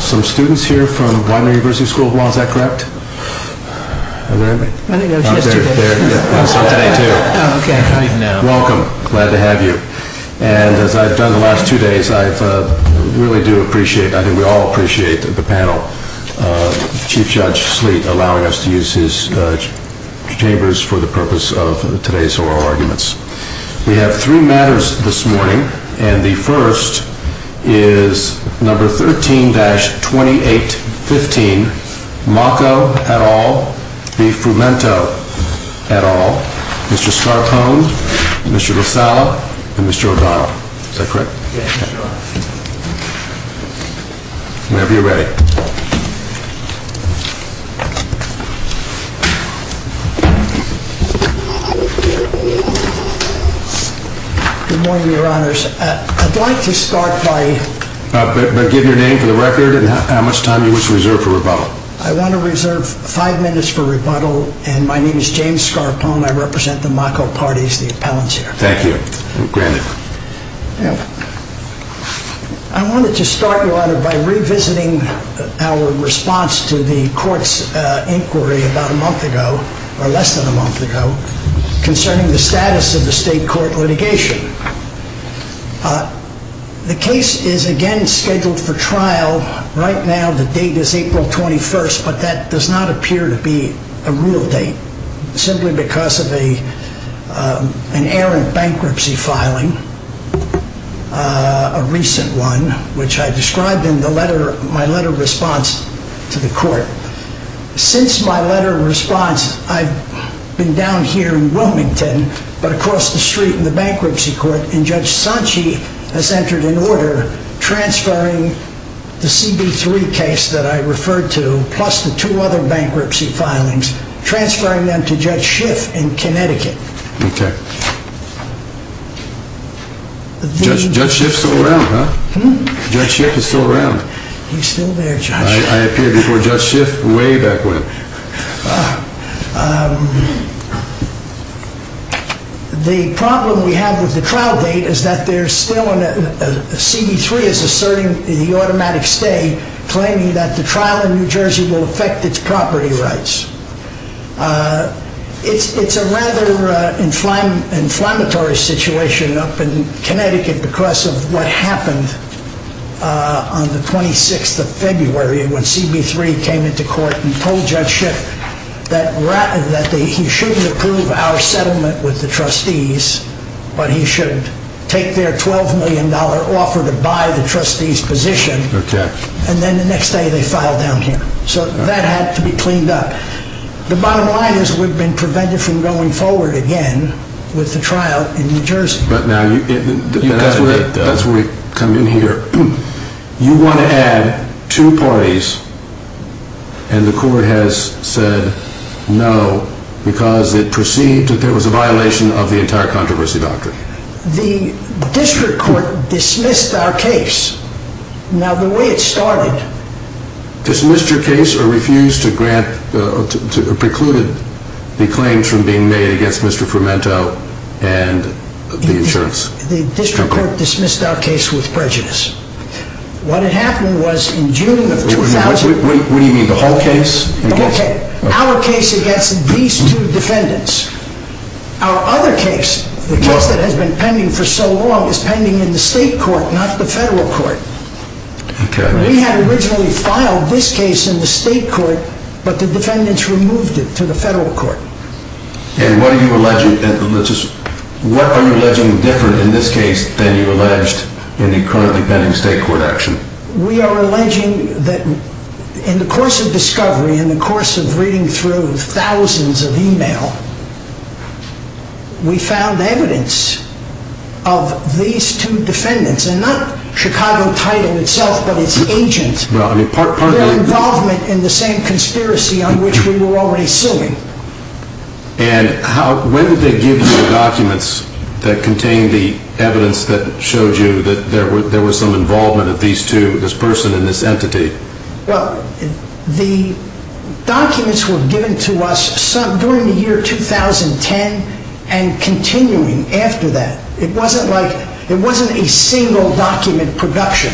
Some students here from Widener University School of Law, is that correct? Is there anybody? I think it was yesterday. There, yeah. It was on today, too. Oh, okay. Welcome. Glad to have you. And as I've done the last two days, I really do appreciate, I think we all appreciate the panel. Chief Judge Sleet allowing us to use his chambers for the purpose of today's oral arguments. We have three matters this morning, and the first is number 13-2815, Mocco et al. v. Frumento et al., Mr. Scarpone, Mr. LoSallo, and Mr. O'Donnell. Is that correct? Yes, Your Honor. Whenever you're ready. Good morning, Your Honors. I'd like to start by... But give your name for the record and how much time you wish to reserve for rebuttal. I want to reserve five minutes for rebuttal, and my name is James Scarpone. I represent the Mocco parties, the appellants here. Thank you. Granted. I wanted to start, Your Honor, by revisiting our response to the court's inquiry about a month ago, or less than a month ago, concerning the status of the state court litigation. The case is, again, scheduled for trial right now. The date is April 21st, but that does not appear to be a real date, simply because of an errant bankruptcy filing, a recent one, which I described in my letter response to the court. Since my letter of response, I've been down here in Wilmington, but across the street in the bankruptcy court, and Judge Sanchi has entered an order transferring the CB3 case that I referred to, plus the two other bankruptcy filings, transferring them to Judge Schiff in Connecticut. Okay. Judge Schiff's still around, huh? Hmm? Judge Schiff is still around. He's still there, Judge. I appeared before Judge Schiff way back when. The problem we have with the trial date is that CB3 is asserting the automatic stay, claiming that the trial in New Jersey will affect its property rights. It's a rather inflammatory situation up in Connecticut because of what happened on the 26th of February when CB3 came into court and told Judge Schiff that he shouldn't approve our settlement with the trustees, but he should take their $12 million offer to buy the trustees' position, and then the next day they filed down here. So that had to be cleaned up. The bottom line is we've been prevented from going forward again with the trial in New Jersey. That's where we come in here. You want to add two parties, and the court has said no because it perceived that there was a violation of the entire controversy doctrine. The district court dismissed our case. Now, the way it started... Dismissed your case or refused to grant, or precluded the claims from being made against Mr. Fermento and the insurance company. The district court dismissed our case with prejudice. What had happened was in June of 2000... What do you mean? The whole case? The whole case. Our case against these two defendants. Our other case, the case that has been pending for so long, is pending in the state court, not the federal court. We had originally filed this case in the state court, but the defendants removed it to the federal court. And what are you alleging different in this case than you alleged in the currently pending state court action? We are alleging that in the course of discovery, in the course of reading through thousands of emails, we found evidence of these two defendants, and not Chicago Title itself, but its agents, their involvement in the same conspiracy on which we were already suing. And when did they give you the documents that contained the evidence that showed you that there was some involvement of these two, this person and this entity? Well, the documents were given to us during the year 2010 and continuing after that. It wasn't like, it wasn't a single document production.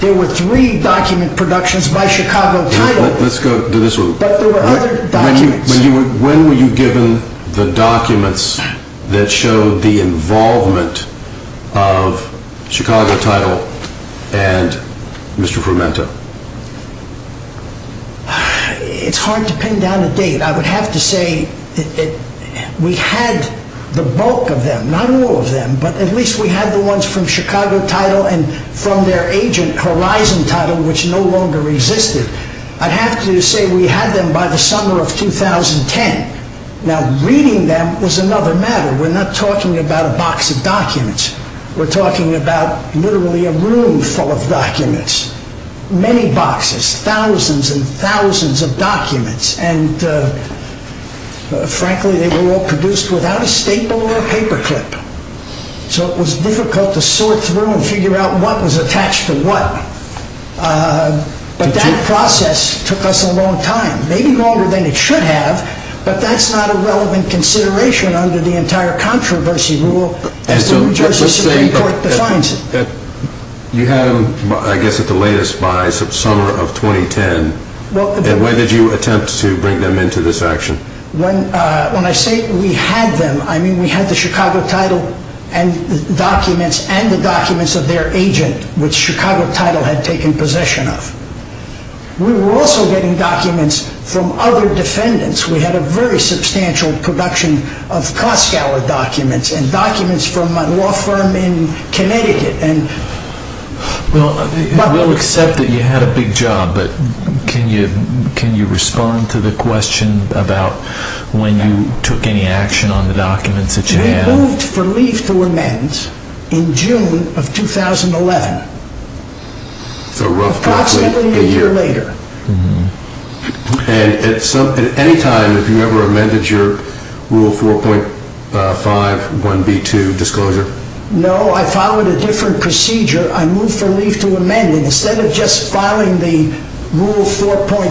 There were three document productions by Chicago Title. Let's go to this one. But there were other documents. When were you given the documents that showed the involvement of Chicago Title and Mr. Frumenta? It's hard to pin down a date. I would have to say we had the bulk of them, not all of them, but at least we had the ones from Chicago Title and from their agent, Horizon Title, which no longer existed. I'd have to say we had them by the summer of 2010. Now, reading them was another matter. We're not talking about a box of documents. We're talking about literally a room full of documents. Many boxes, thousands and thousands of documents. And frankly, they were all produced without a staple or a paperclip. So it was difficult to sort through and figure out what was attached to what. But that process took us a long time, maybe longer than it should have, but that's not a relevant consideration under the entire controversy rule as the New Jersey Supreme Court defines it. You had them, I guess, at the latest by the summer of 2010. When did you attempt to bring them into this action? When I say we had them, I mean we had the Chicago Title documents and the documents of their agent, which Chicago Title had taken possession of. We were also getting documents from other defendants. We had a very substantial production of Koskala documents and documents from a law firm in Connecticut. Well, we'll accept that you had a big job, but can you respond to the question about when you took any action on the documents that you had? I moved for leave to amend in June of 2011. So roughly a year later. Approximately a year later. And at any time, have you ever amended your Rule 4.5.1b2 disclosure? No, I followed a different procedure. I moved for leave to amend it. Instead of just filing the Rule 4.5, 4,5-1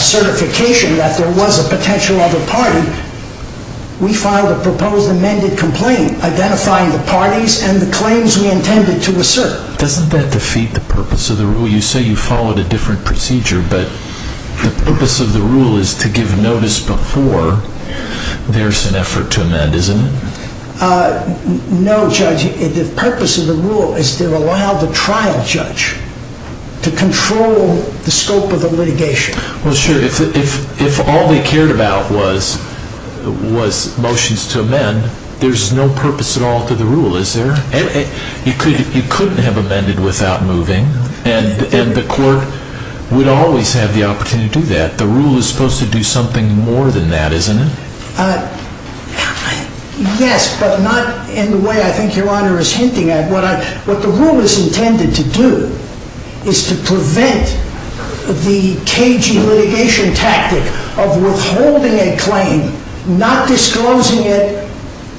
certification that there was a potential other party, we filed a proposed amended complaint identifying the parties and the claims we intended to assert. Doesn't that defeat the purpose of the Rule? You say you followed a different procedure, but the purpose of the Rule is to give notice before there's an effort to amend, isn't it? No, Judge. The purpose of the Rule is to allow the trial judge to control the scope of the litigation. Well, sure. If all they cared about was motions to amend, there's no purpose at all to the Rule, is there? You couldn't have amended without moving, and the court would always have the opportunity to do that. The Rule is supposed to do something more than that, isn't it? Yes, but not in the way I think Your Honor is hinting at. What the Rule is intended to do is to prevent the cagey litigation tactic of withholding a claim, not disclosing it,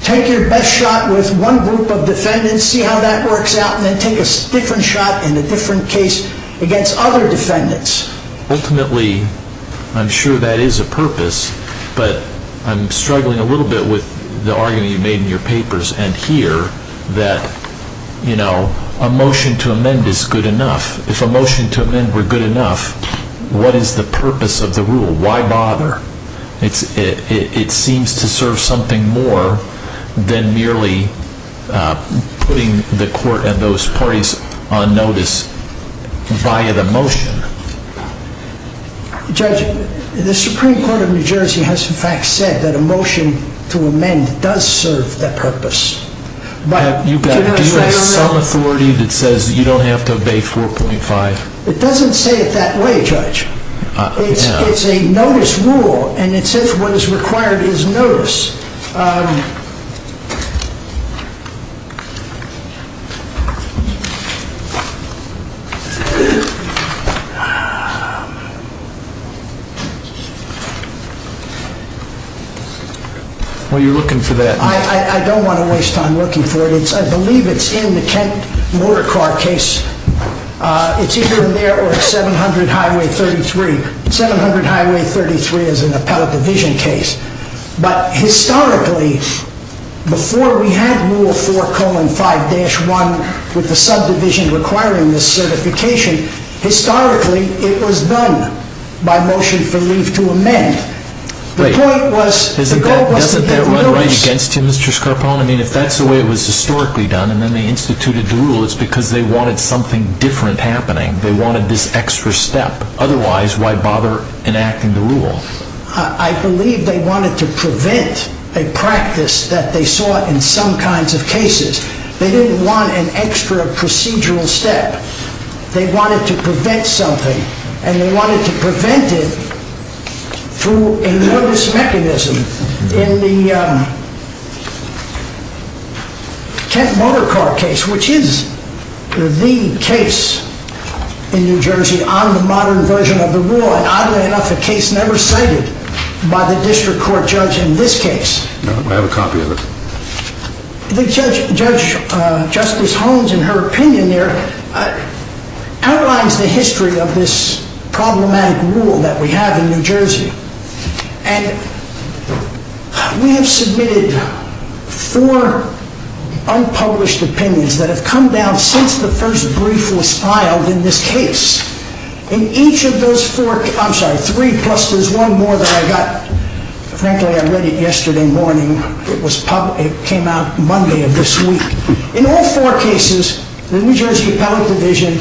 take your best shot with one group of defendants, see how that works out, and then take a different shot in a different case against other defendants. Ultimately, I'm sure that is a purpose, but I'm struggling a little bit with the argument you made in your papers and here that a motion to amend is good enough. If a motion to amend were good enough, what is the purpose of the Rule? Why bother? It seems to serve something more than merely putting the court and those parties on notice via the motion. Judge, the Supreme Court of New Jersey has in fact said that a motion to amend does serve that purpose. Do you have some authority that says you don't have to obey 4.5? It doesn't say it that way, Judge. It's a notice Rule, and it says what is required is notice. Well, you're looking for that. I don't want to waste time looking for it. I believe it's in the Kent motor car case. It's either in there or at 700 Highway 33. 700 Highway 33 is an appellate division case, but historically, before we had Rule 4.5-1 with the subdivision requiring this certification, historically it was done by motion for leave to amend. The point was the goal was to get notice. Isn't that right against you, Mr. Scarpa? I mean, if that's the way it was historically done and then they instituted the Rule, it's because they wanted something different happening. They wanted this extra step. Otherwise, why bother enacting the Rule? I believe they wanted to prevent a practice that they saw in some kinds of cases. They didn't want an extra procedural step. They wanted to prevent something, and they wanted to prevent it through a notice mechanism. In the Kent motor car case, which is the case in New Jersey on the modern version of the Rule, and oddly enough, a case never cited by the district court judge in this case. I have a copy of it. Judge Justice Holmes, in her opinion there, outlines the history of this problematic Rule that we have in New Jersey. We have submitted four unpublished opinions that have come down since the first brief was filed in this case. In each of those four, I'm sorry, three, plus there's one more that I got. Frankly, I read it yesterday morning. It came out Monday of this week. In all four cases, the New Jersey Appellate Division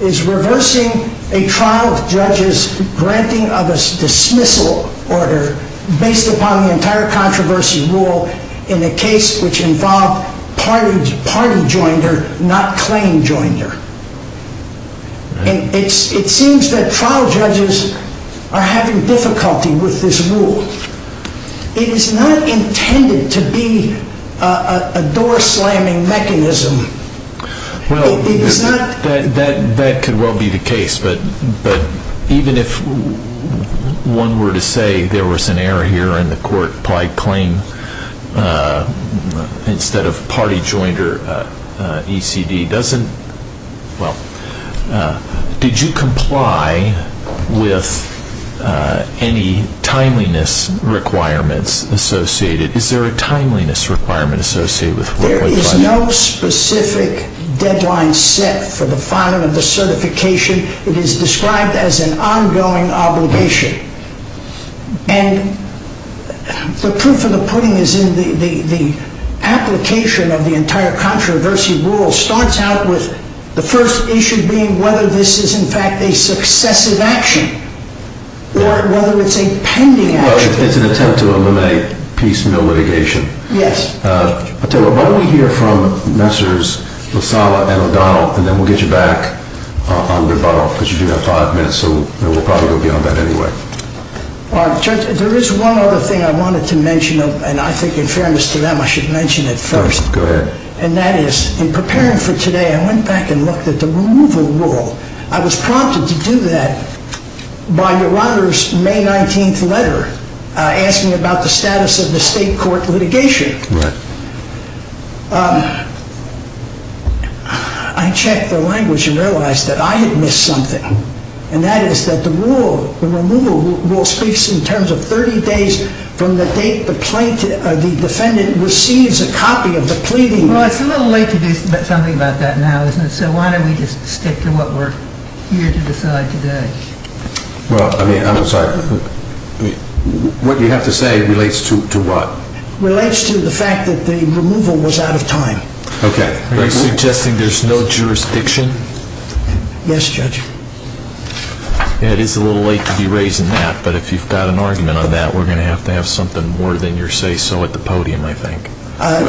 is reversing a trial of judges granting of a dismissal order based upon the entire controversy Rule in a case which involved party joinder, not claim joinder. It seems that trial judges are having difficulty with this Rule. It is not intended to be a door slamming mechanism. That could well be the case, but even if one were to say there was an error here and the court applied claim instead of party joinder, ECD doesn't, well, did you comply with any timeliness requirements associated? Is there a timeliness requirement associated with what would apply? There is no specific deadline set for the filing of the certification. It is described as an ongoing obligation. And the proof of the pudding is in the application of the entire controversy Rule starts out with the first issue being whether this is in fact a successive action or whether it's a pending action. It's an attempt to eliminate piecemeal litigation. Yes. I'll tell you what, why don't we hear from Ministers Lozala and O'Donnell and then we'll get you back on rebuttal because you do have five minutes so we'll probably go beyond that anyway. Judge, there is one other thing I wanted to mention and I think in fairness to them I should mention it first. Go ahead. And that is in preparing for today I went back and looked at the removal Rule. I was prompted to do that by your honor's May 19th letter asking about the status of the state court litigation. Right. I checked the language and realized that I had missed something and that is that the Rule, the removal Rule, speaks in terms of 30 days from the date the defendant receives a copy of the pleading. Well, it's a little late to do something about that now, isn't it? So why don't we just stick to what we're here to decide today? Well, I mean, I'm sorry. What you have to say relates to what? Relates to the fact that the removal was out of time. Okay. Are you suggesting there's no jurisdiction? Yes, Judge. It is a little late to be raising that, but if you've got an argument on that, we're going to have to have something more than your say-so at the podium, I think.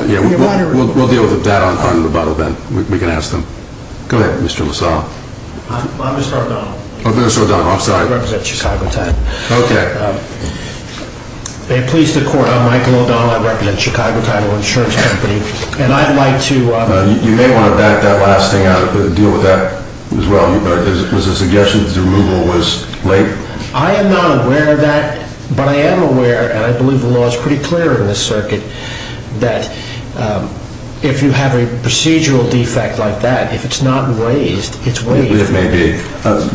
Your Honor. We'll deal with that on the bottom then. We can ask them. Go ahead, Mr. LaSalle. I'm Mr. O'Donnell. Oh, Mr. O'Donnell. I'm sorry. I represent Chicago Title. Okay. May it please the Court, I'm Michael O'Donnell. I represent Chicago Title Insurance Company. And I'd like to You may want to back that last thing out, but deal with that as well. Is it a suggestion that the removal was late? I am not aware of that, but I am aware, and I believe the law is pretty clear in this circuit, that if you have a procedural defect like that, if it's not raised, it's waived. It may be.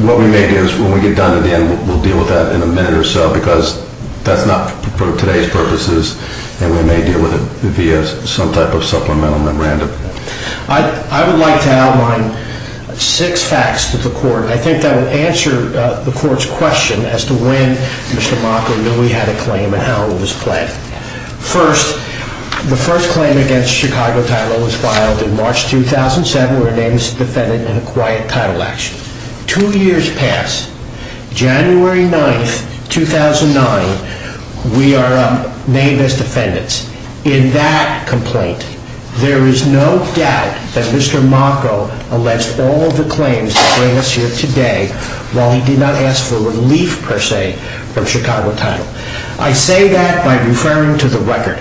What we may do is when we get done in the end, we'll deal with that in a minute or so, because that's not for today's purposes, and we may deal with it via some type of supplemental memorandum. I would like to outline six facts to the Court. I think that will answer the Court's question as to when Mr. Mocker knew he had a claim and how it was planned. First, the first claim against Chicago Title was filed in March 2007, where it aims to defend it in a quiet title action. Two years pass. January 9, 2009, we are named as defendants. In that complaint, there is no doubt that Mr. Mocker alleged all the claims that bring us here today while he did not ask for relief, per se, from Chicago Title. I say that by referring to the record.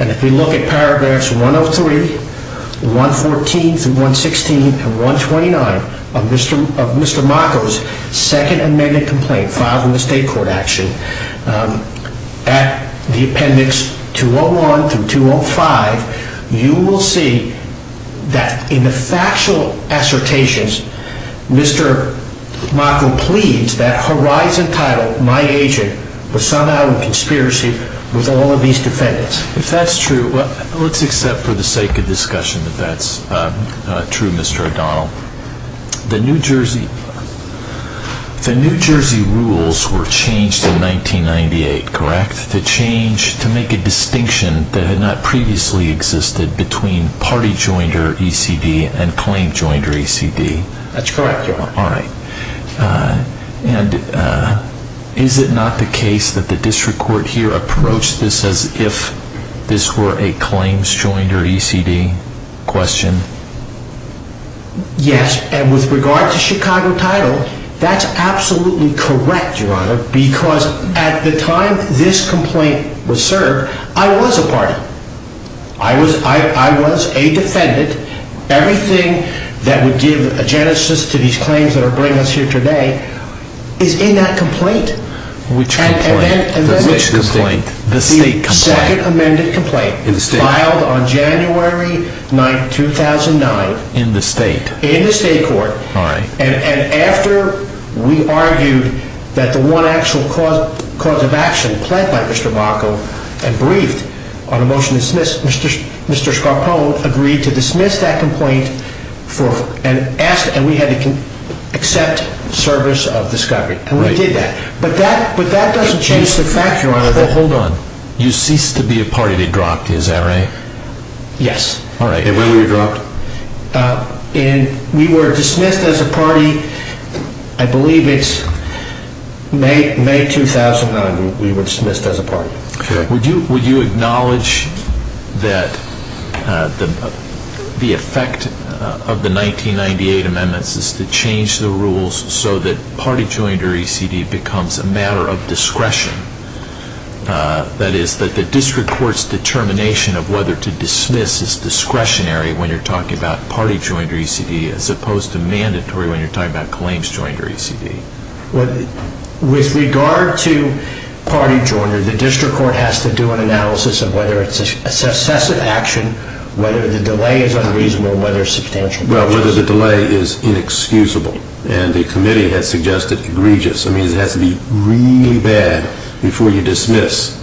And if we look at paragraphs 103, 114 through 116, and 129 of Mr. Mocker's Second Amendment complaint filed in the State Court action, at the appendix 201 through 205, you will see that in the factual assertions, Mr. Mocker pleads that Horizon Title, my agent, was sought out in conspiracy with all of these defendants. If that's true, let's accept for the sake of discussion that that's true, Mr. O'Donnell. The New Jersey rules were changed in 1998, correct? The change to make a distinction that had not previously existed between Party Joinder ECD and Claim Joinder ECD. That's correct, Your Honor. And is it not the case that the District Court here approached this as if this were a Claims Joinder ECD question? Yes, and with regard to Chicago Title, that's absolutely correct, Your Honor, because at the time this complaint was served, I was a party. I was a defendant. Everything that would give a genesis to these claims that are bringing us here today is in that complaint. Which complaint? The State complaint? The Second Amendment complaint, filed on January 9, 2009. In the State? In the State Court. And after we argued that the one actual cause of action pled by Mr. Bacow and briefed on a motion to dismiss, Mr. Scarpone agreed to dismiss that complaint and we had to accept service of discovery. And we did that. But that doesn't change the fact, Your Honor. Well, hold on. You ceased to be a party that dropped, is that right? Yes. And where were you dropped? And we were dismissed as a party, I believe it's May 2009 we were dismissed as a party. Would you acknowledge that the effect of the 1998 amendments is to change the rules so that party joinder ECD becomes a matter of discretion? That is, that the district court's determination of whether to dismiss is discretionary when you're talking about party joinder ECD as opposed to mandatory when you're talking about claims joinder ECD? With regard to party joinder, the district court has to do an analysis of whether it's a successive action, whether the delay is unreasonable, whether it's substantial. Well, whether the delay is inexcusable. And the committee has suggested egregious. I mean, it has to be really bad before you dismiss,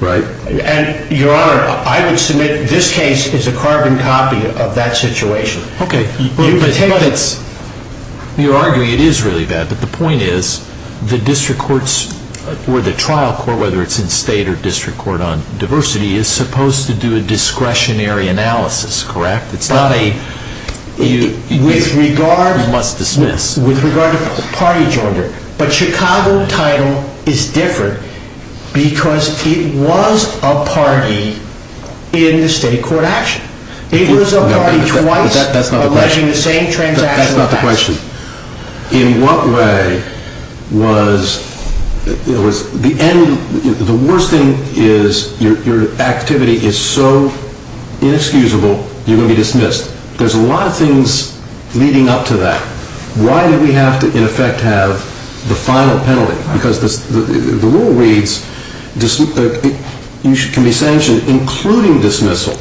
right? And, Your Honor, I would submit this case is a carbon copy of that situation. Okay. You're arguing it is really bad, but the point is the district courts or the trial court, whether it's in state or district court on diversity, is supposed to do a discretionary analysis, correct? It's not a you must dismiss. With regard to party joinder, but Chicago title is different because it was a party in the state court action. It was a party twice alleging the same transaction. That's not the question. In what way was the worst thing is your activity is so inexcusable you're going to be dismissed. There's a lot of things leading up to that. Why do we have to, in effect, have the final penalty? Because the rule reads you can be sanctioned including dismissal.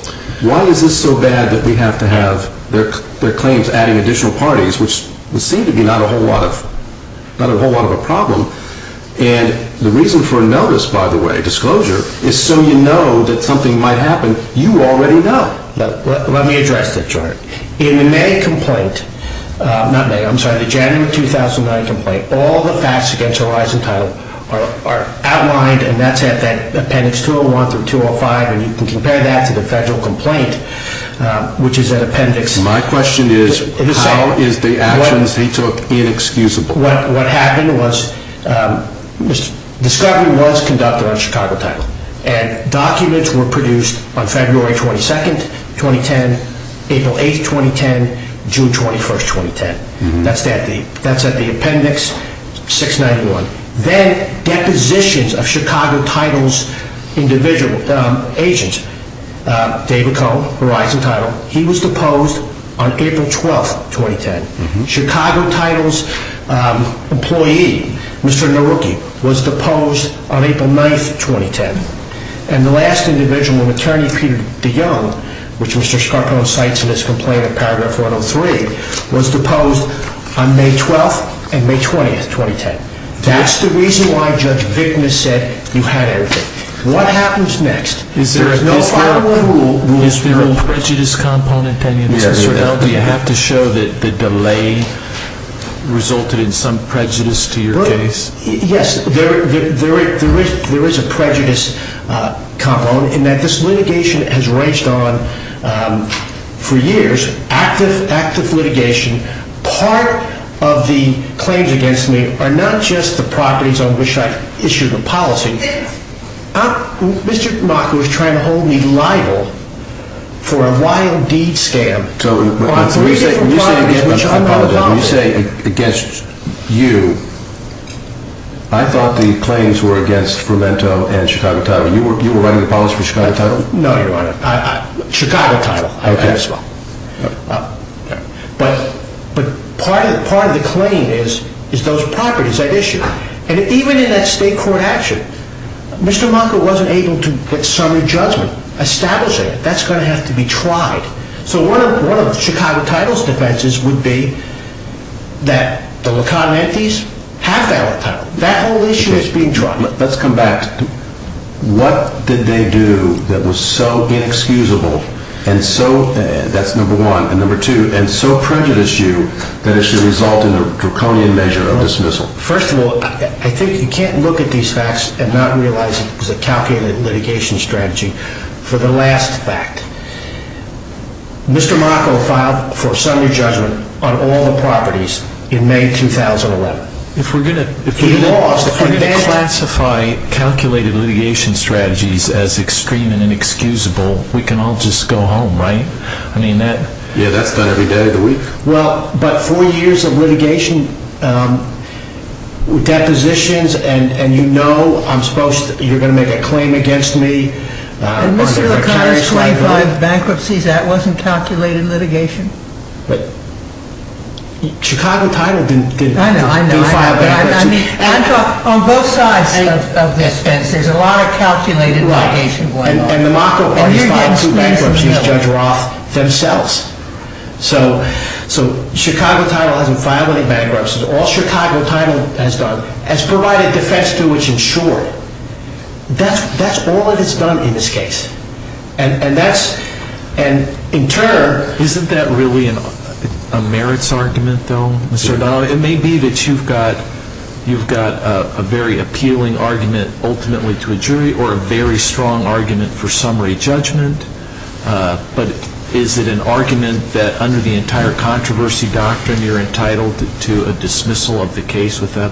Why is this so bad that we have to have their claims adding additional parties, which would seem to be not a whole lot of a problem? And the reason for a notice, by the way, disclosure, is so you know that something might happen you already know. Let me address that, Your Honor. In the May complaint, not May, I'm sorry, the January 2009 complaint, all the facts against Horizon Title are outlined, and that's at Appendix 201 through 205, and you can compare that to the federal complaint, which is an appendix. My question is how is the actions they took inexcusable? What happened was discovery was conducted on Chicago Title, and documents were produced on February 22, 2010, April 8, 2010, June 21, 2010. That's at the appendix 691. Then depositions of Chicago Title's individual agents, David Cohn, Horizon Title, he was deposed on April 12, 2010. Chicago Title's employee, Mr. Naruki, was deposed on April 9, 2010. And the last individual, an attorney, Peter DeYoung, which Mr. Scarpone cites in his complaint at paragraph 103, was deposed on May 12 and May 20, 2010. That's the reason why Judge Vickness said you had everything. What happens next? Is there a prejudice component? Do you have to show that the delay resulted in some prejudice to your case? Yes, there is a prejudice component in that this litigation has ranged on for years, active litigation. Part of the claims against me are not just the properties on which I issue the policy. Mr. Mock was trying to hold me liable for a wild deed scam on three different properties which are under the policy. When you say against you, I thought the claims were against Fremento and Chicago Title. You were writing the policy for Chicago Title? No, Your Honor. Chicago Title. Okay. But part of the claim is those properties I've issued. And even in that state court action, Mr. Mock wasn't able to get summary judgment. Establishing it. That's going to have to be tried. So one of Chicago Title's defenses would be that the La Conientes have that law title. That whole issue is being tried. Let's come back. What did they do that was so inexcusable and so, that's number one, and number two, and so prejudiced you that it should result in a draconian measure of dismissal? First of all, I think you can't look at these facts and not realize it was a calculated litigation strategy. For the last fact, Mr. Mock filed for summary judgment on all the properties in May 2011. If we're going to classify calculated litigation strategies as extreme and inexcusable, we can all just go home, right? Yeah, that's done every day of the week. But four years of litigation, depositions, and you know you're going to make a claim against me. And Mr. O'Connor's claim on the bankruptcies, that wasn't calculated litigation? Chicago Title didn't file bankruptcy. On both sides of this fence, there's a lot of calculated litigation going on. And the mocker already filed two bankruptcies, Judge Roth themselves. So Chicago Title hasn't filed any bankruptcies. All Chicago Title has done is provided defense to which it's insured. That's all that it's done in this case. And that's, in turn... Isn't that really a merits argument, though, Mr. O'Donnell? It may be that you've got a very appealing argument ultimately to a jury or a very strong argument for summary judgment. But is it an argument that under the entire controversy doctrine, you're entitled to a dismissal of the case without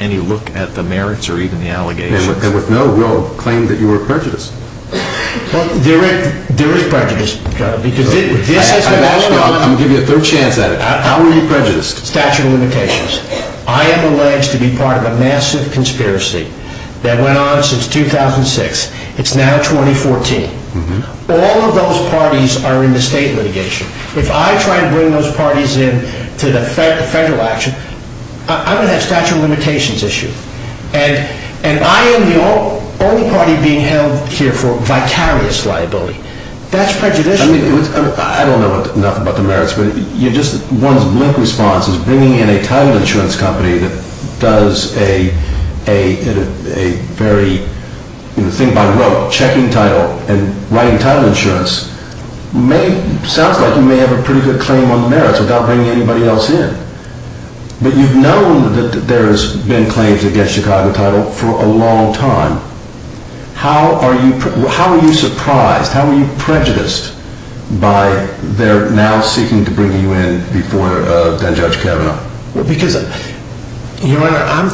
any look at the merits or even the allegations? And with no will, claim that you were prejudiced. Well, there is prejudice, because this is... I'll give you a third chance at it. How were you prejudiced? Statute of limitations. I am alleged to be part of a massive conspiracy that went on since 2006. It's now 2014. All of those parties are in the state litigation. If I try to bring those parties in to the federal action, I'm going to have a statute of limitations issue. And I am the only party being held here for vicarious liability. That's prejudicial. I don't know enough about the merits, but one's blink response is bringing in a title insurance company that does a very thing by rote, checking title and writing title insurance. Sounds like you may have a pretty good claim on the merits without bringing anybody else in. But you've known that there's been claims against Chicago title for a long time. How are you surprised? How are you prejudiced by their now seeking to bring you in before Judge Kavanaugh? Because, Your Honor,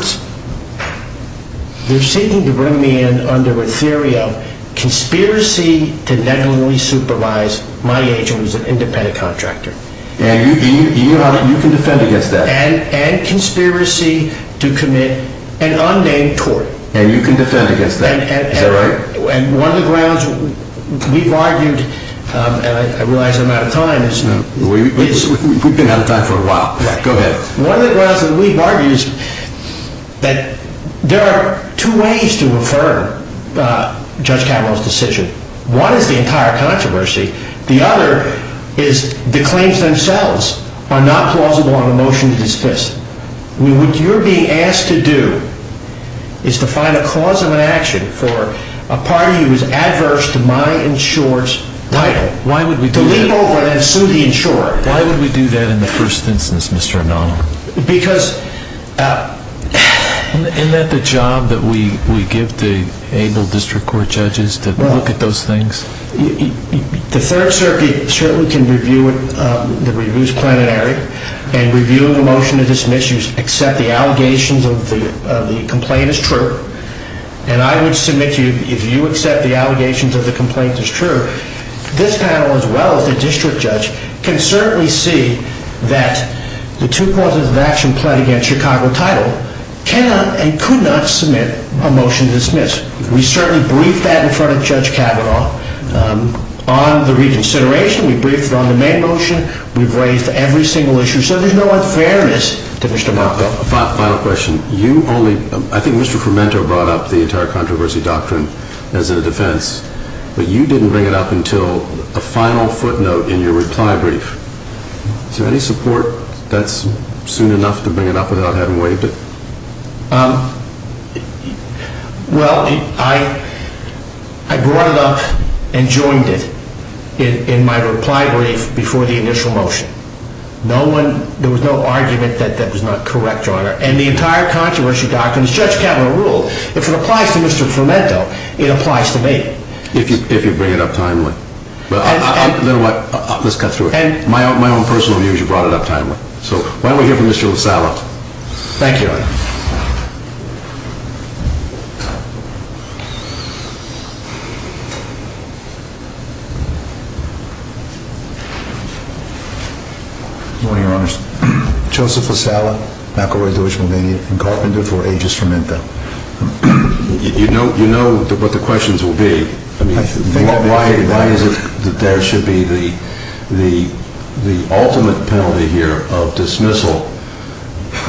they're seeking to bring me in under a theory of conspiracy to negligently supervise my agent who's an independent contractor. And you can defend against that. And conspiracy to commit an unnamed tort. And you can defend against that. Is that right? And one of the grounds we've argued, and I realize I'm out of time. We've been out of time for a while. Go ahead. One of the grounds that we've argued is that there are two ways to refer Judge Kavanaugh's decision. One is the entire controversy. The other is the claims themselves are not plausible on a motion to dismiss. What you're being asked to do is to find a cause of inaction for a party who is adverse to my insurer's title. Why would we do that? To leap over and sue the insurer. Why would we do that in the first instance, Mr. Anonimo? Because... Isn't that the job that we give to anal district court judges, to look at those things? The Third Circuit certainly can review the reviews plenary and review the motion to dismiss. You accept the allegations of the complaint as true. And I would submit to you, if you accept the allegations of the complaint as true, this panel as well as the district judge can certainly see that the two causes of action pledged against Chicago title cannot and could not submit a motion to dismiss. We certainly briefed that in front of Judge Kavanaugh on the reconsideration. We briefed it on the May motion. We briefed every single issue. So there's no unfairness to Mr. Malcolm. Final question. I think Mr. Fermento brought up the entire controversy doctrine as a defense. But you didn't bring it up until a final footnote in your reply brief. Is there any support that's soon enough to bring it up without having waived it? Well, I brought it up and joined it in my reply brief before the initial motion. There was no argument that that was not correct, Your Honor. And the entire controversy doctrine, as Judge Kavanaugh ruled, if it applies to Mr. Fermento, it applies to me. If you bring it up timely. Let's cut through it. My own personal view is you brought it up timely. So why don't we hear from Mr. LaSalla. Thank you, Your Honor. Good morning, Your Honors. Joseph LaSalla, Macquarie Jewish Millennium, and carpenter for A.J. Fermento. You know what the questions will be. Why is it that there should be the ultimate penalty here of dismissal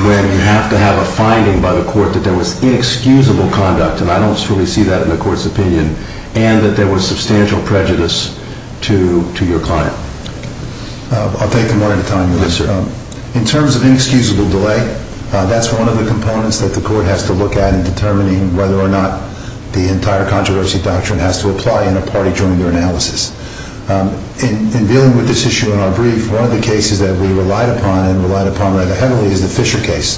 when you have to have a finding by the court that there was inexcusable conduct, and I don't truly see that in the court's opinion, and that there was substantial prejudice to your client? I'll take them one at a time. In terms of inexcusable delay, that's one of the components that the court has to look at in determining whether or not the entire controversy doctrine has to apply in a party-joinder analysis. In dealing with this issue in our brief, one of the cases that we relied upon and relied upon rather heavily is the Fisher case.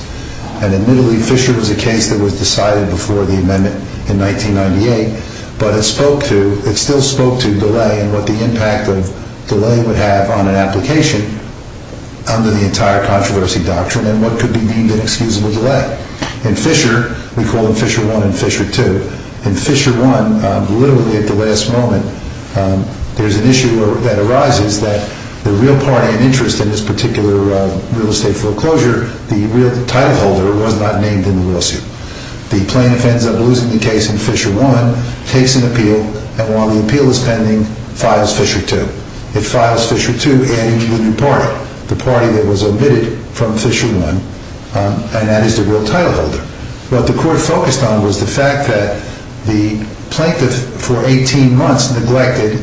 And admittedly, Fisher was a case that was decided before the amendment in 1998, but it still spoke to delay and what the impact of delay would have on an application under the entire controversy doctrine and what could be deemed inexcusable delay. In Fisher, we call them Fisher 1 and Fisher 2. In Fisher 1, literally at the last moment, there's an issue that arises that the real party in interest in this particular real estate foreclosure, the real title holder, was not named in the lawsuit. The plaintiff ends up losing the case in Fisher 1, takes an appeal, and while the appeal is pending, files Fisher 2. It files Fisher 2 adding to the new party, the party that was omitted from Fisher 1, and that is the real title holder. What the court focused on was the fact that the plaintiff, for 18 months, neglected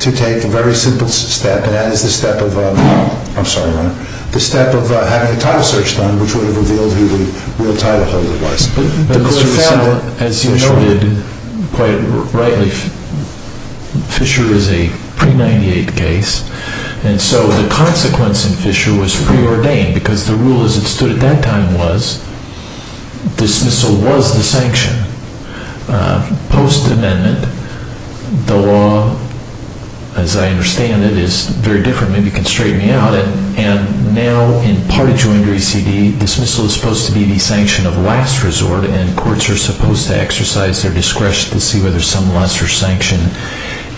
to take a very simple step, and that is the step of having a title search done, which would have revealed who the real title holder was. The court found that, as you noted quite rightly, Fisher is a pre-'98 case, and so the consequence in Fisher was preordained, because the rule as it stood at that time was dismissal was the sanction. Post-amendment, the law, as I understand it, is very different. Maybe you can straighten me out. Now, in party-joined RECD, dismissal is supposed to be the sanction of last resort, and courts are supposed to exercise their discretion to see whether some lesser sanction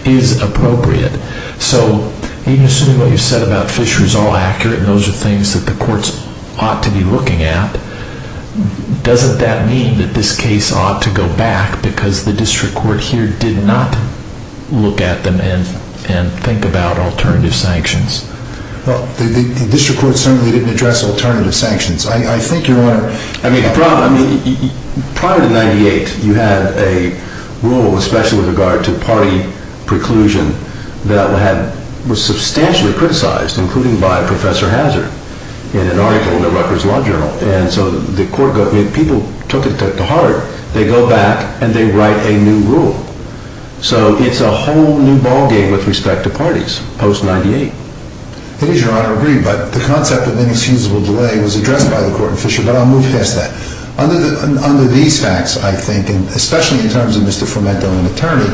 is appropriate. So, even assuming what you said about Fisher is all accurate, and those are things that the courts ought to be looking at, doesn't that mean that this case ought to go back, because the district court here did not look at them and think about alternative sanctions? Well, the district court certainly didn't address alternative sanctions. I think you're on... I mean, prior to 98, you had a rule, especially with regard to party preclusion, that was substantially criticized, including by Professor Hazard, in an article in the Rutgers Law Journal. And so the court... I mean, people took it to heart. They go back, and they write a new rule. So, it's a whole new ballgame with respect to parties, post-98. It is your honor agreed, but the concept of inexcusable delay was addressed by the court in Fisher, but I'll move past that. Under these facts, I think, and especially in terms of Mr. Fermento, an attorney,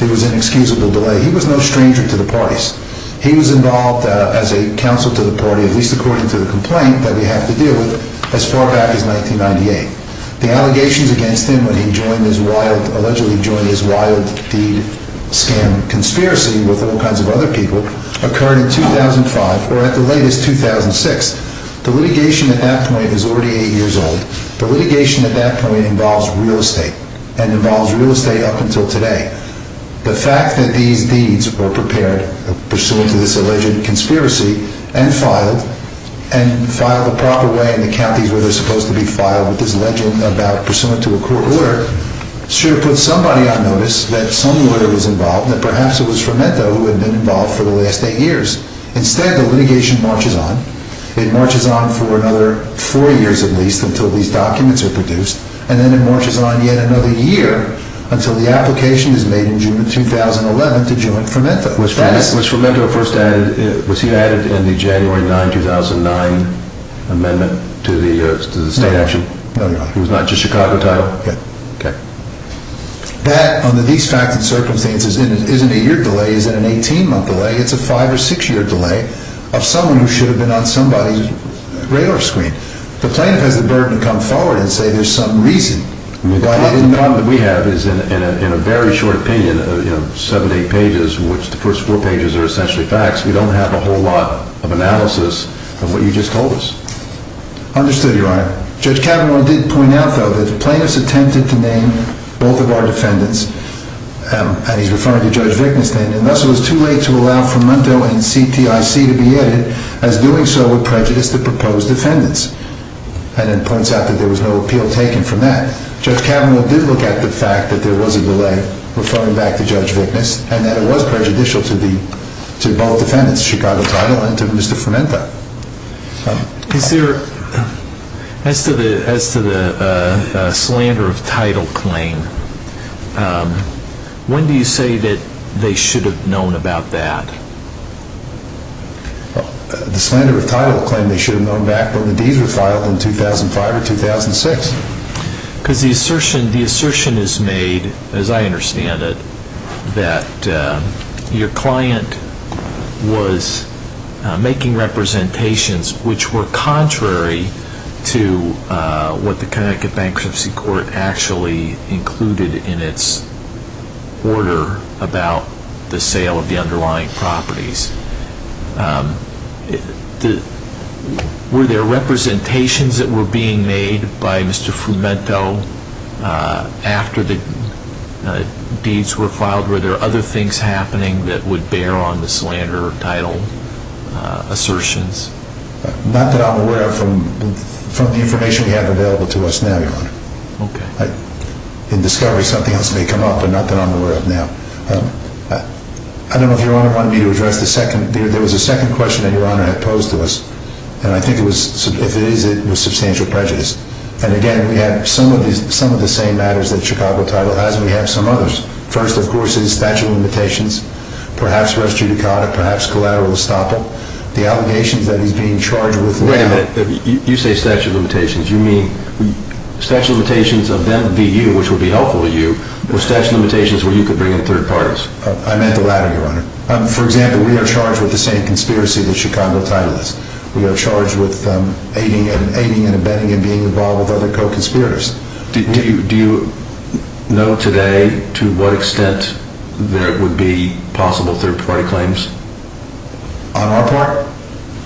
there was inexcusable delay. He was no stranger to the parties. He was involved as a counsel to the party, at least according to the complaint that we have to deal with, as far back as 1998. The allegations against him when he joined his wild... allegedly joined his wild deed scam conspiracy with all kinds of other people occurred in 2005, or at the latest, 2006. The litigation at that point is already eight years old. The litigation at that point involves real estate, and involves real estate up until today. The fact that these deeds were prepared pursuant to this alleged conspiracy, and filed, and filed the proper way in the counties where they're supposed to be filed, with this legend about pursuant to a court order, should put somebody on notice that some lawyer was involved, that perhaps it was Fermento who had been involved for the last eight years. Instead, the litigation marches on. It marches on for another four years, at least, until these documents are produced, and then it marches on yet another year until the application is made in June of 2011 to join Fermento. Was Fermento first added... Was he added in the January 9, 2009 amendment to the state action? No, he was not. He was not just Chicago title? Yeah. Okay. That, under these facts and circumstances, isn't a year delay. It isn't an 18-month delay. It's a five- or six-year delay of someone who should have been on somebody's radar screen. The plaintiff has the burden to come forward and say there's some reason. The problem that we have is, in a very short opinion of seven to eight pages, which the first four pages are essentially facts, we don't have a whole lot of analysis of what you just told us. Understood, Your Honor. Judge Cavanaugh did point out, though, that the plaintiff's attempted to name both of our defendants, and he's referring to Judge Wittgenstein, and thus it was too late to allow Fermento and CTIC to be added, as doing so would prejudice the proposed defendants. And it points out that there was no appeal taken from that. Judge Cavanaugh did look at the fact that there was a delay, referring back to Judge Wittgenstein, and that it was prejudicial to both defendants, Chicago title and to Mr. Fermento. As to the slander of title claim, when do you say that they should have known about that? The slander of title claim they should have known back when the deeds were filed in 2005 or 2006. Because the assertion is made, as I understand it, that your client was making representations which were contrary to what the Connecticut Bankruptcy Court actually included in its order about the sale of the underlying properties. Were there representations that were being made by Mr. Fermento after the deeds were filed? Were there other things happening that would bear on the slander of title assertions? Not that I'm aware of from the information we have available to us now, Your Honor. In discovery, something else may come up, but not that I'm aware of now. I don't know if Your Honor wanted me to address the second question that Your Honor had posed to us. And I think if it is, it was substantial prejudice. And again, we have some of the same matters that Chicago title has, and we have some others. First, of course, is statute of limitations. Perhaps res judicata, perhaps collateral estoppel. The allegations that he's being charged with now— Wait a minute. You say statute of limitations. You mean statute of limitations of them v. you, which would be helpful to you, or statute of limitations where you could bring in third parties? I meant the latter, Your Honor. For example, we are charged with the same conspiracy that Chicago title is. We are charged with aiding and abetting and being involved with other co-conspirators. Do you know today to what extent there would be possible third-party claims? On our part,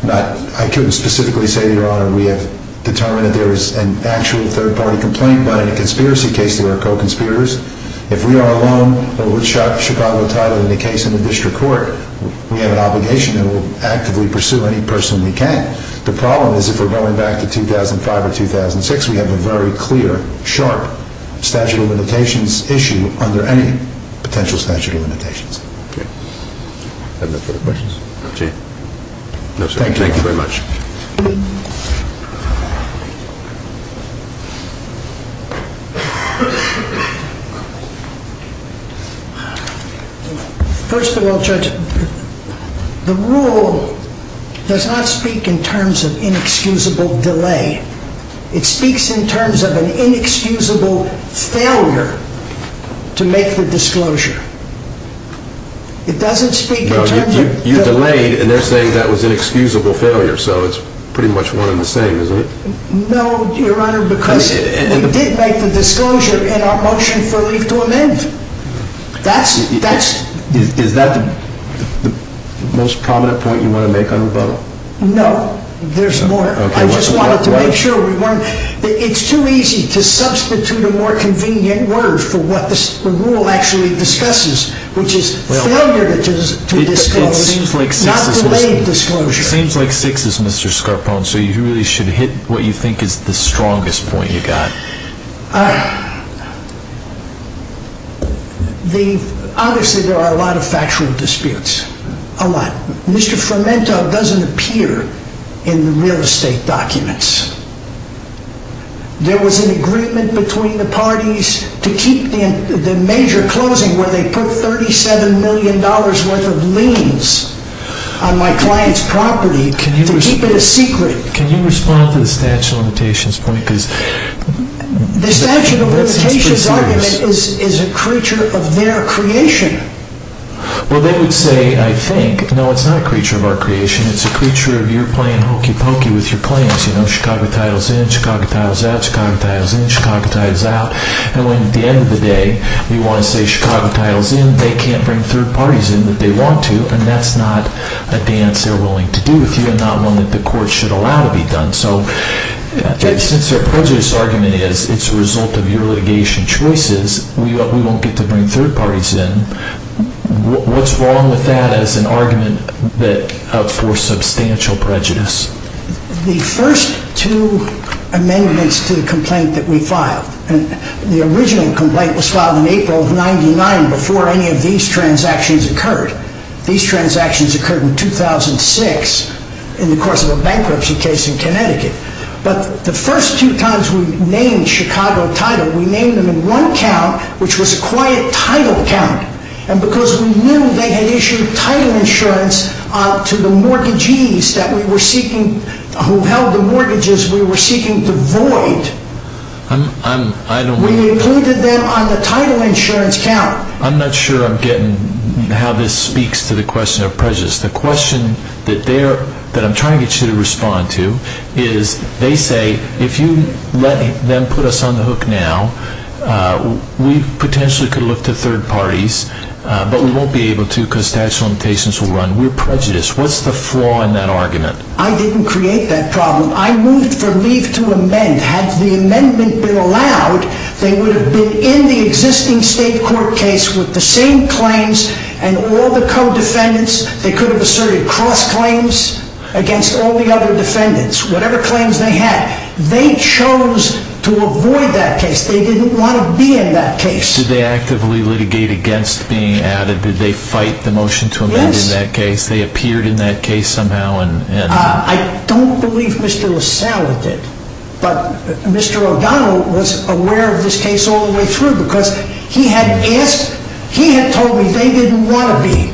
I couldn't specifically say, Your Honor, we have determined that there is an actual third-party complaint, but in a conspiracy case there are co-conspirators. If we are alone with Chicago title in the case in the district court, we have an obligation and will actively pursue any person we can. The problem is if we're going back to 2005 or 2006, we have a very clear, sharp statute of limitations issue under any potential statute of limitations. Are there no further questions? No, sir. Thank you very much. First of all, Judge, the rule does not speak in terms of inexcusable delay. It speaks in terms of an inexcusable failure to make the disclosure. It doesn't speak in terms of... No, you delayed and they're saying that was inexcusable failure, so it's pretty much one and the same, isn't it? No, Your Honor, because we did make the disclosure in our motion for leave to amend. That's... Is that the most prominent point you want to make on rebuttal? No, there's more. I just wanted to make sure we weren't... It's too easy to substitute a more convenient word for what the rule actually discusses, which is failure to disclose, not delayed disclosure. It seems like sixes, Mr. Scarpone, so you really should hit what you think is the strongest point you got. Obviously, there are a lot of factual disputes, a lot. Mr. Fermento doesn't appear in the real estate documents. There was an agreement between the parties to keep the major closing where they put $37 million worth of liens on my client's property to keep it a secret. Can you respond to the statute of limitations point? The statute of limitations argument is a creature of their creation. Well, they would say, I think, no, it's not a creature of our creation. It's a creature of your playing hokey pokey with your claims. You know, Chicago title's in, Chicago title's out, Chicago title's in, Chicago title's out. And when, at the end of the day, you want to say Chicago title's in, they can't bring third parties in that they want to, and that's not a dance they're willing to do with you and not one that the court should allow to be done. So since their prejudice argument is it's a result of your litigation choices, we won't get to bring third parties in, what's wrong with that as an argument for substantial prejudice? The first two amendments to the complaint that we filed, the original complaint was filed in April of 99 before any of these transactions occurred. These transactions occurred in 2006 in the course of a bankruptcy case in Connecticut. But the first two times we named Chicago title, we named them in one count, which was a quiet title count. And because we knew they had issued title insurance to the mortgagees who held the mortgages we were seeking to void, we included them on the title insurance count. I'm not sure I'm getting how this speaks to the question of prejudice. The question that I'm trying to get you to respond to is, they say if you let them put us on the hook now, we potentially could look to third parties, but we won't be able to because statute of limitations will run. We're prejudiced. What's the flaw in that argument? I didn't create that problem. I moved for leave to amend. Had the amendment been allowed, they would have been in the existing state court case with the same claims and all the co-defendants, they could have asserted cross claims against all the other defendants. Whatever claims they had, they chose to avoid that case. They didn't want to be in that case. Did they actively litigate against being added? Did they fight the motion to amend in that case? They appeared in that case somehow? I don't believe Mr. LaSalle did, but Mr. O'Donnell was aware of this case all the way through because he had told me they didn't want to be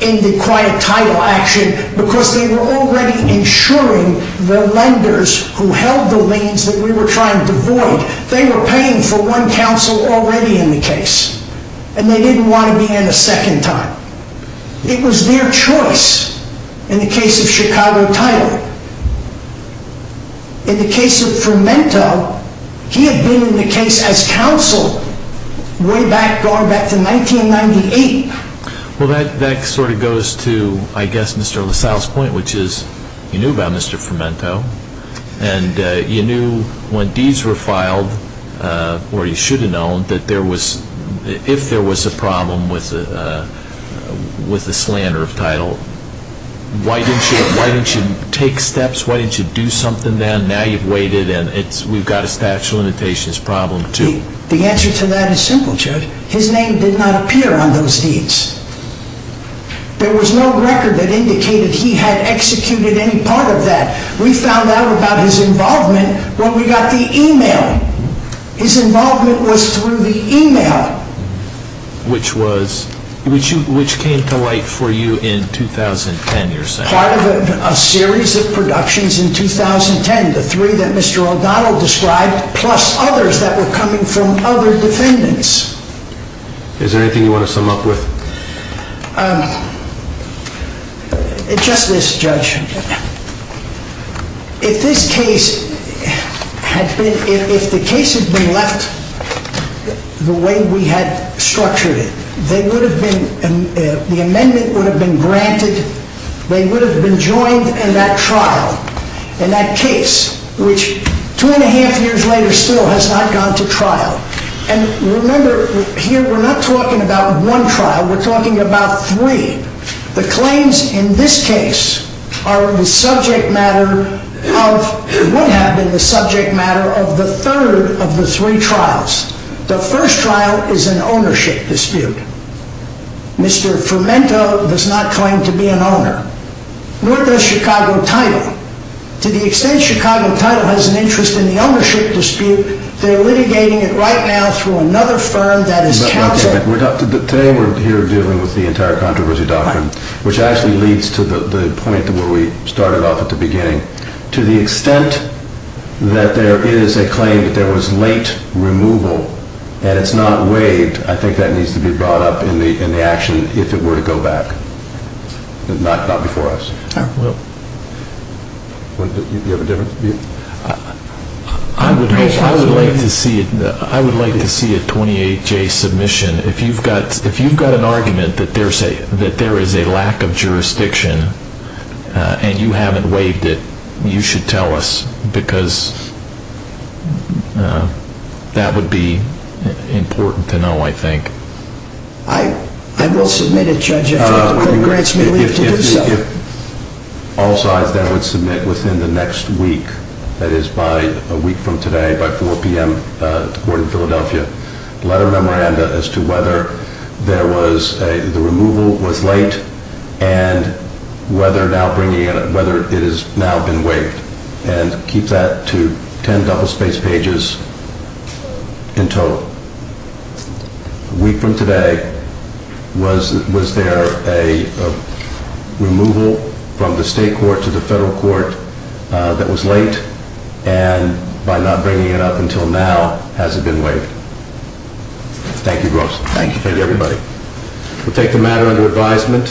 in the quiet title action because they were already insuring the lenders who held the liens that we were trying to void. They were paying for one counsel already in the case, and they didn't want to be in a second time. It was their choice in the case of Chicago title. In the case of Fermento, he had been in the case as counsel way back, going back to 1998. Well, that sort of goes to, I guess, Mr. LaSalle's point, which is you knew about Mr. Fermento, and you knew when deeds were filed, or you should have known, that if there was a problem with the slander of title, why didn't you take steps? Why didn't you do something then? Now you've waited, and we've got a statute of limitations problem too. The answer to that is simple, Judge. His name did not appear on those deeds. There was no record that indicated he had executed any part of that. We found out about his involvement when we got the e-mail. His involvement was through the e-mail. Which came to light for you in 2010, you're saying? Part of a series of productions in 2010, the three that Mr. O'Donnell described plus others that were coming from other defendants. Is there anything you want to sum up with? Just this, Judge. If the case had been left the way we had structured it, the amendment would have been granted, they would have been joined in that trial, in that case, which two and a half years later still has not gone to trial. And remember, here we're not talking about one trial, we're talking about three. The claims in this case would have been the subject matter of the third of the three trials. The first trial is an ownership dispute. Mr. Fermento does not claim to be an owner. Nor does Chicago Title. To the extent Chicago Title has an interest in the ownership dispute, they're litigating it right now through another firm that is counsel. Today we're here dealing with the entire controversy doctrine, which actually leads to the point where we started off at the beginning. To the extent that there is a claim that there was late removal and it's not waived, I think that needs to be brought up in the action if it were to go back. Not before us. I will. Do you have a different view? I would like to see a 28-J submission. If you've got an argument that there is a lack of jurisdiction and you haven't waived it, you should tell us because that would be important to know, I think. I will submit it, Judge, if the court grants me leave to do so. If all sides then would submit within the next week, that is by a week from today, by 4 p.m. to the Court of Philadelphia, a letter of memoranda as to whether the removal was late and whether it has now been waived, and keep that to 10 double-spaced pages in total. A week from today, was there a removal from the state court to the federal court that was late and by not bringing it up until now, has it been waived? Thank you, Bruce. Thank you, everybody. We'll take the matter under advisement.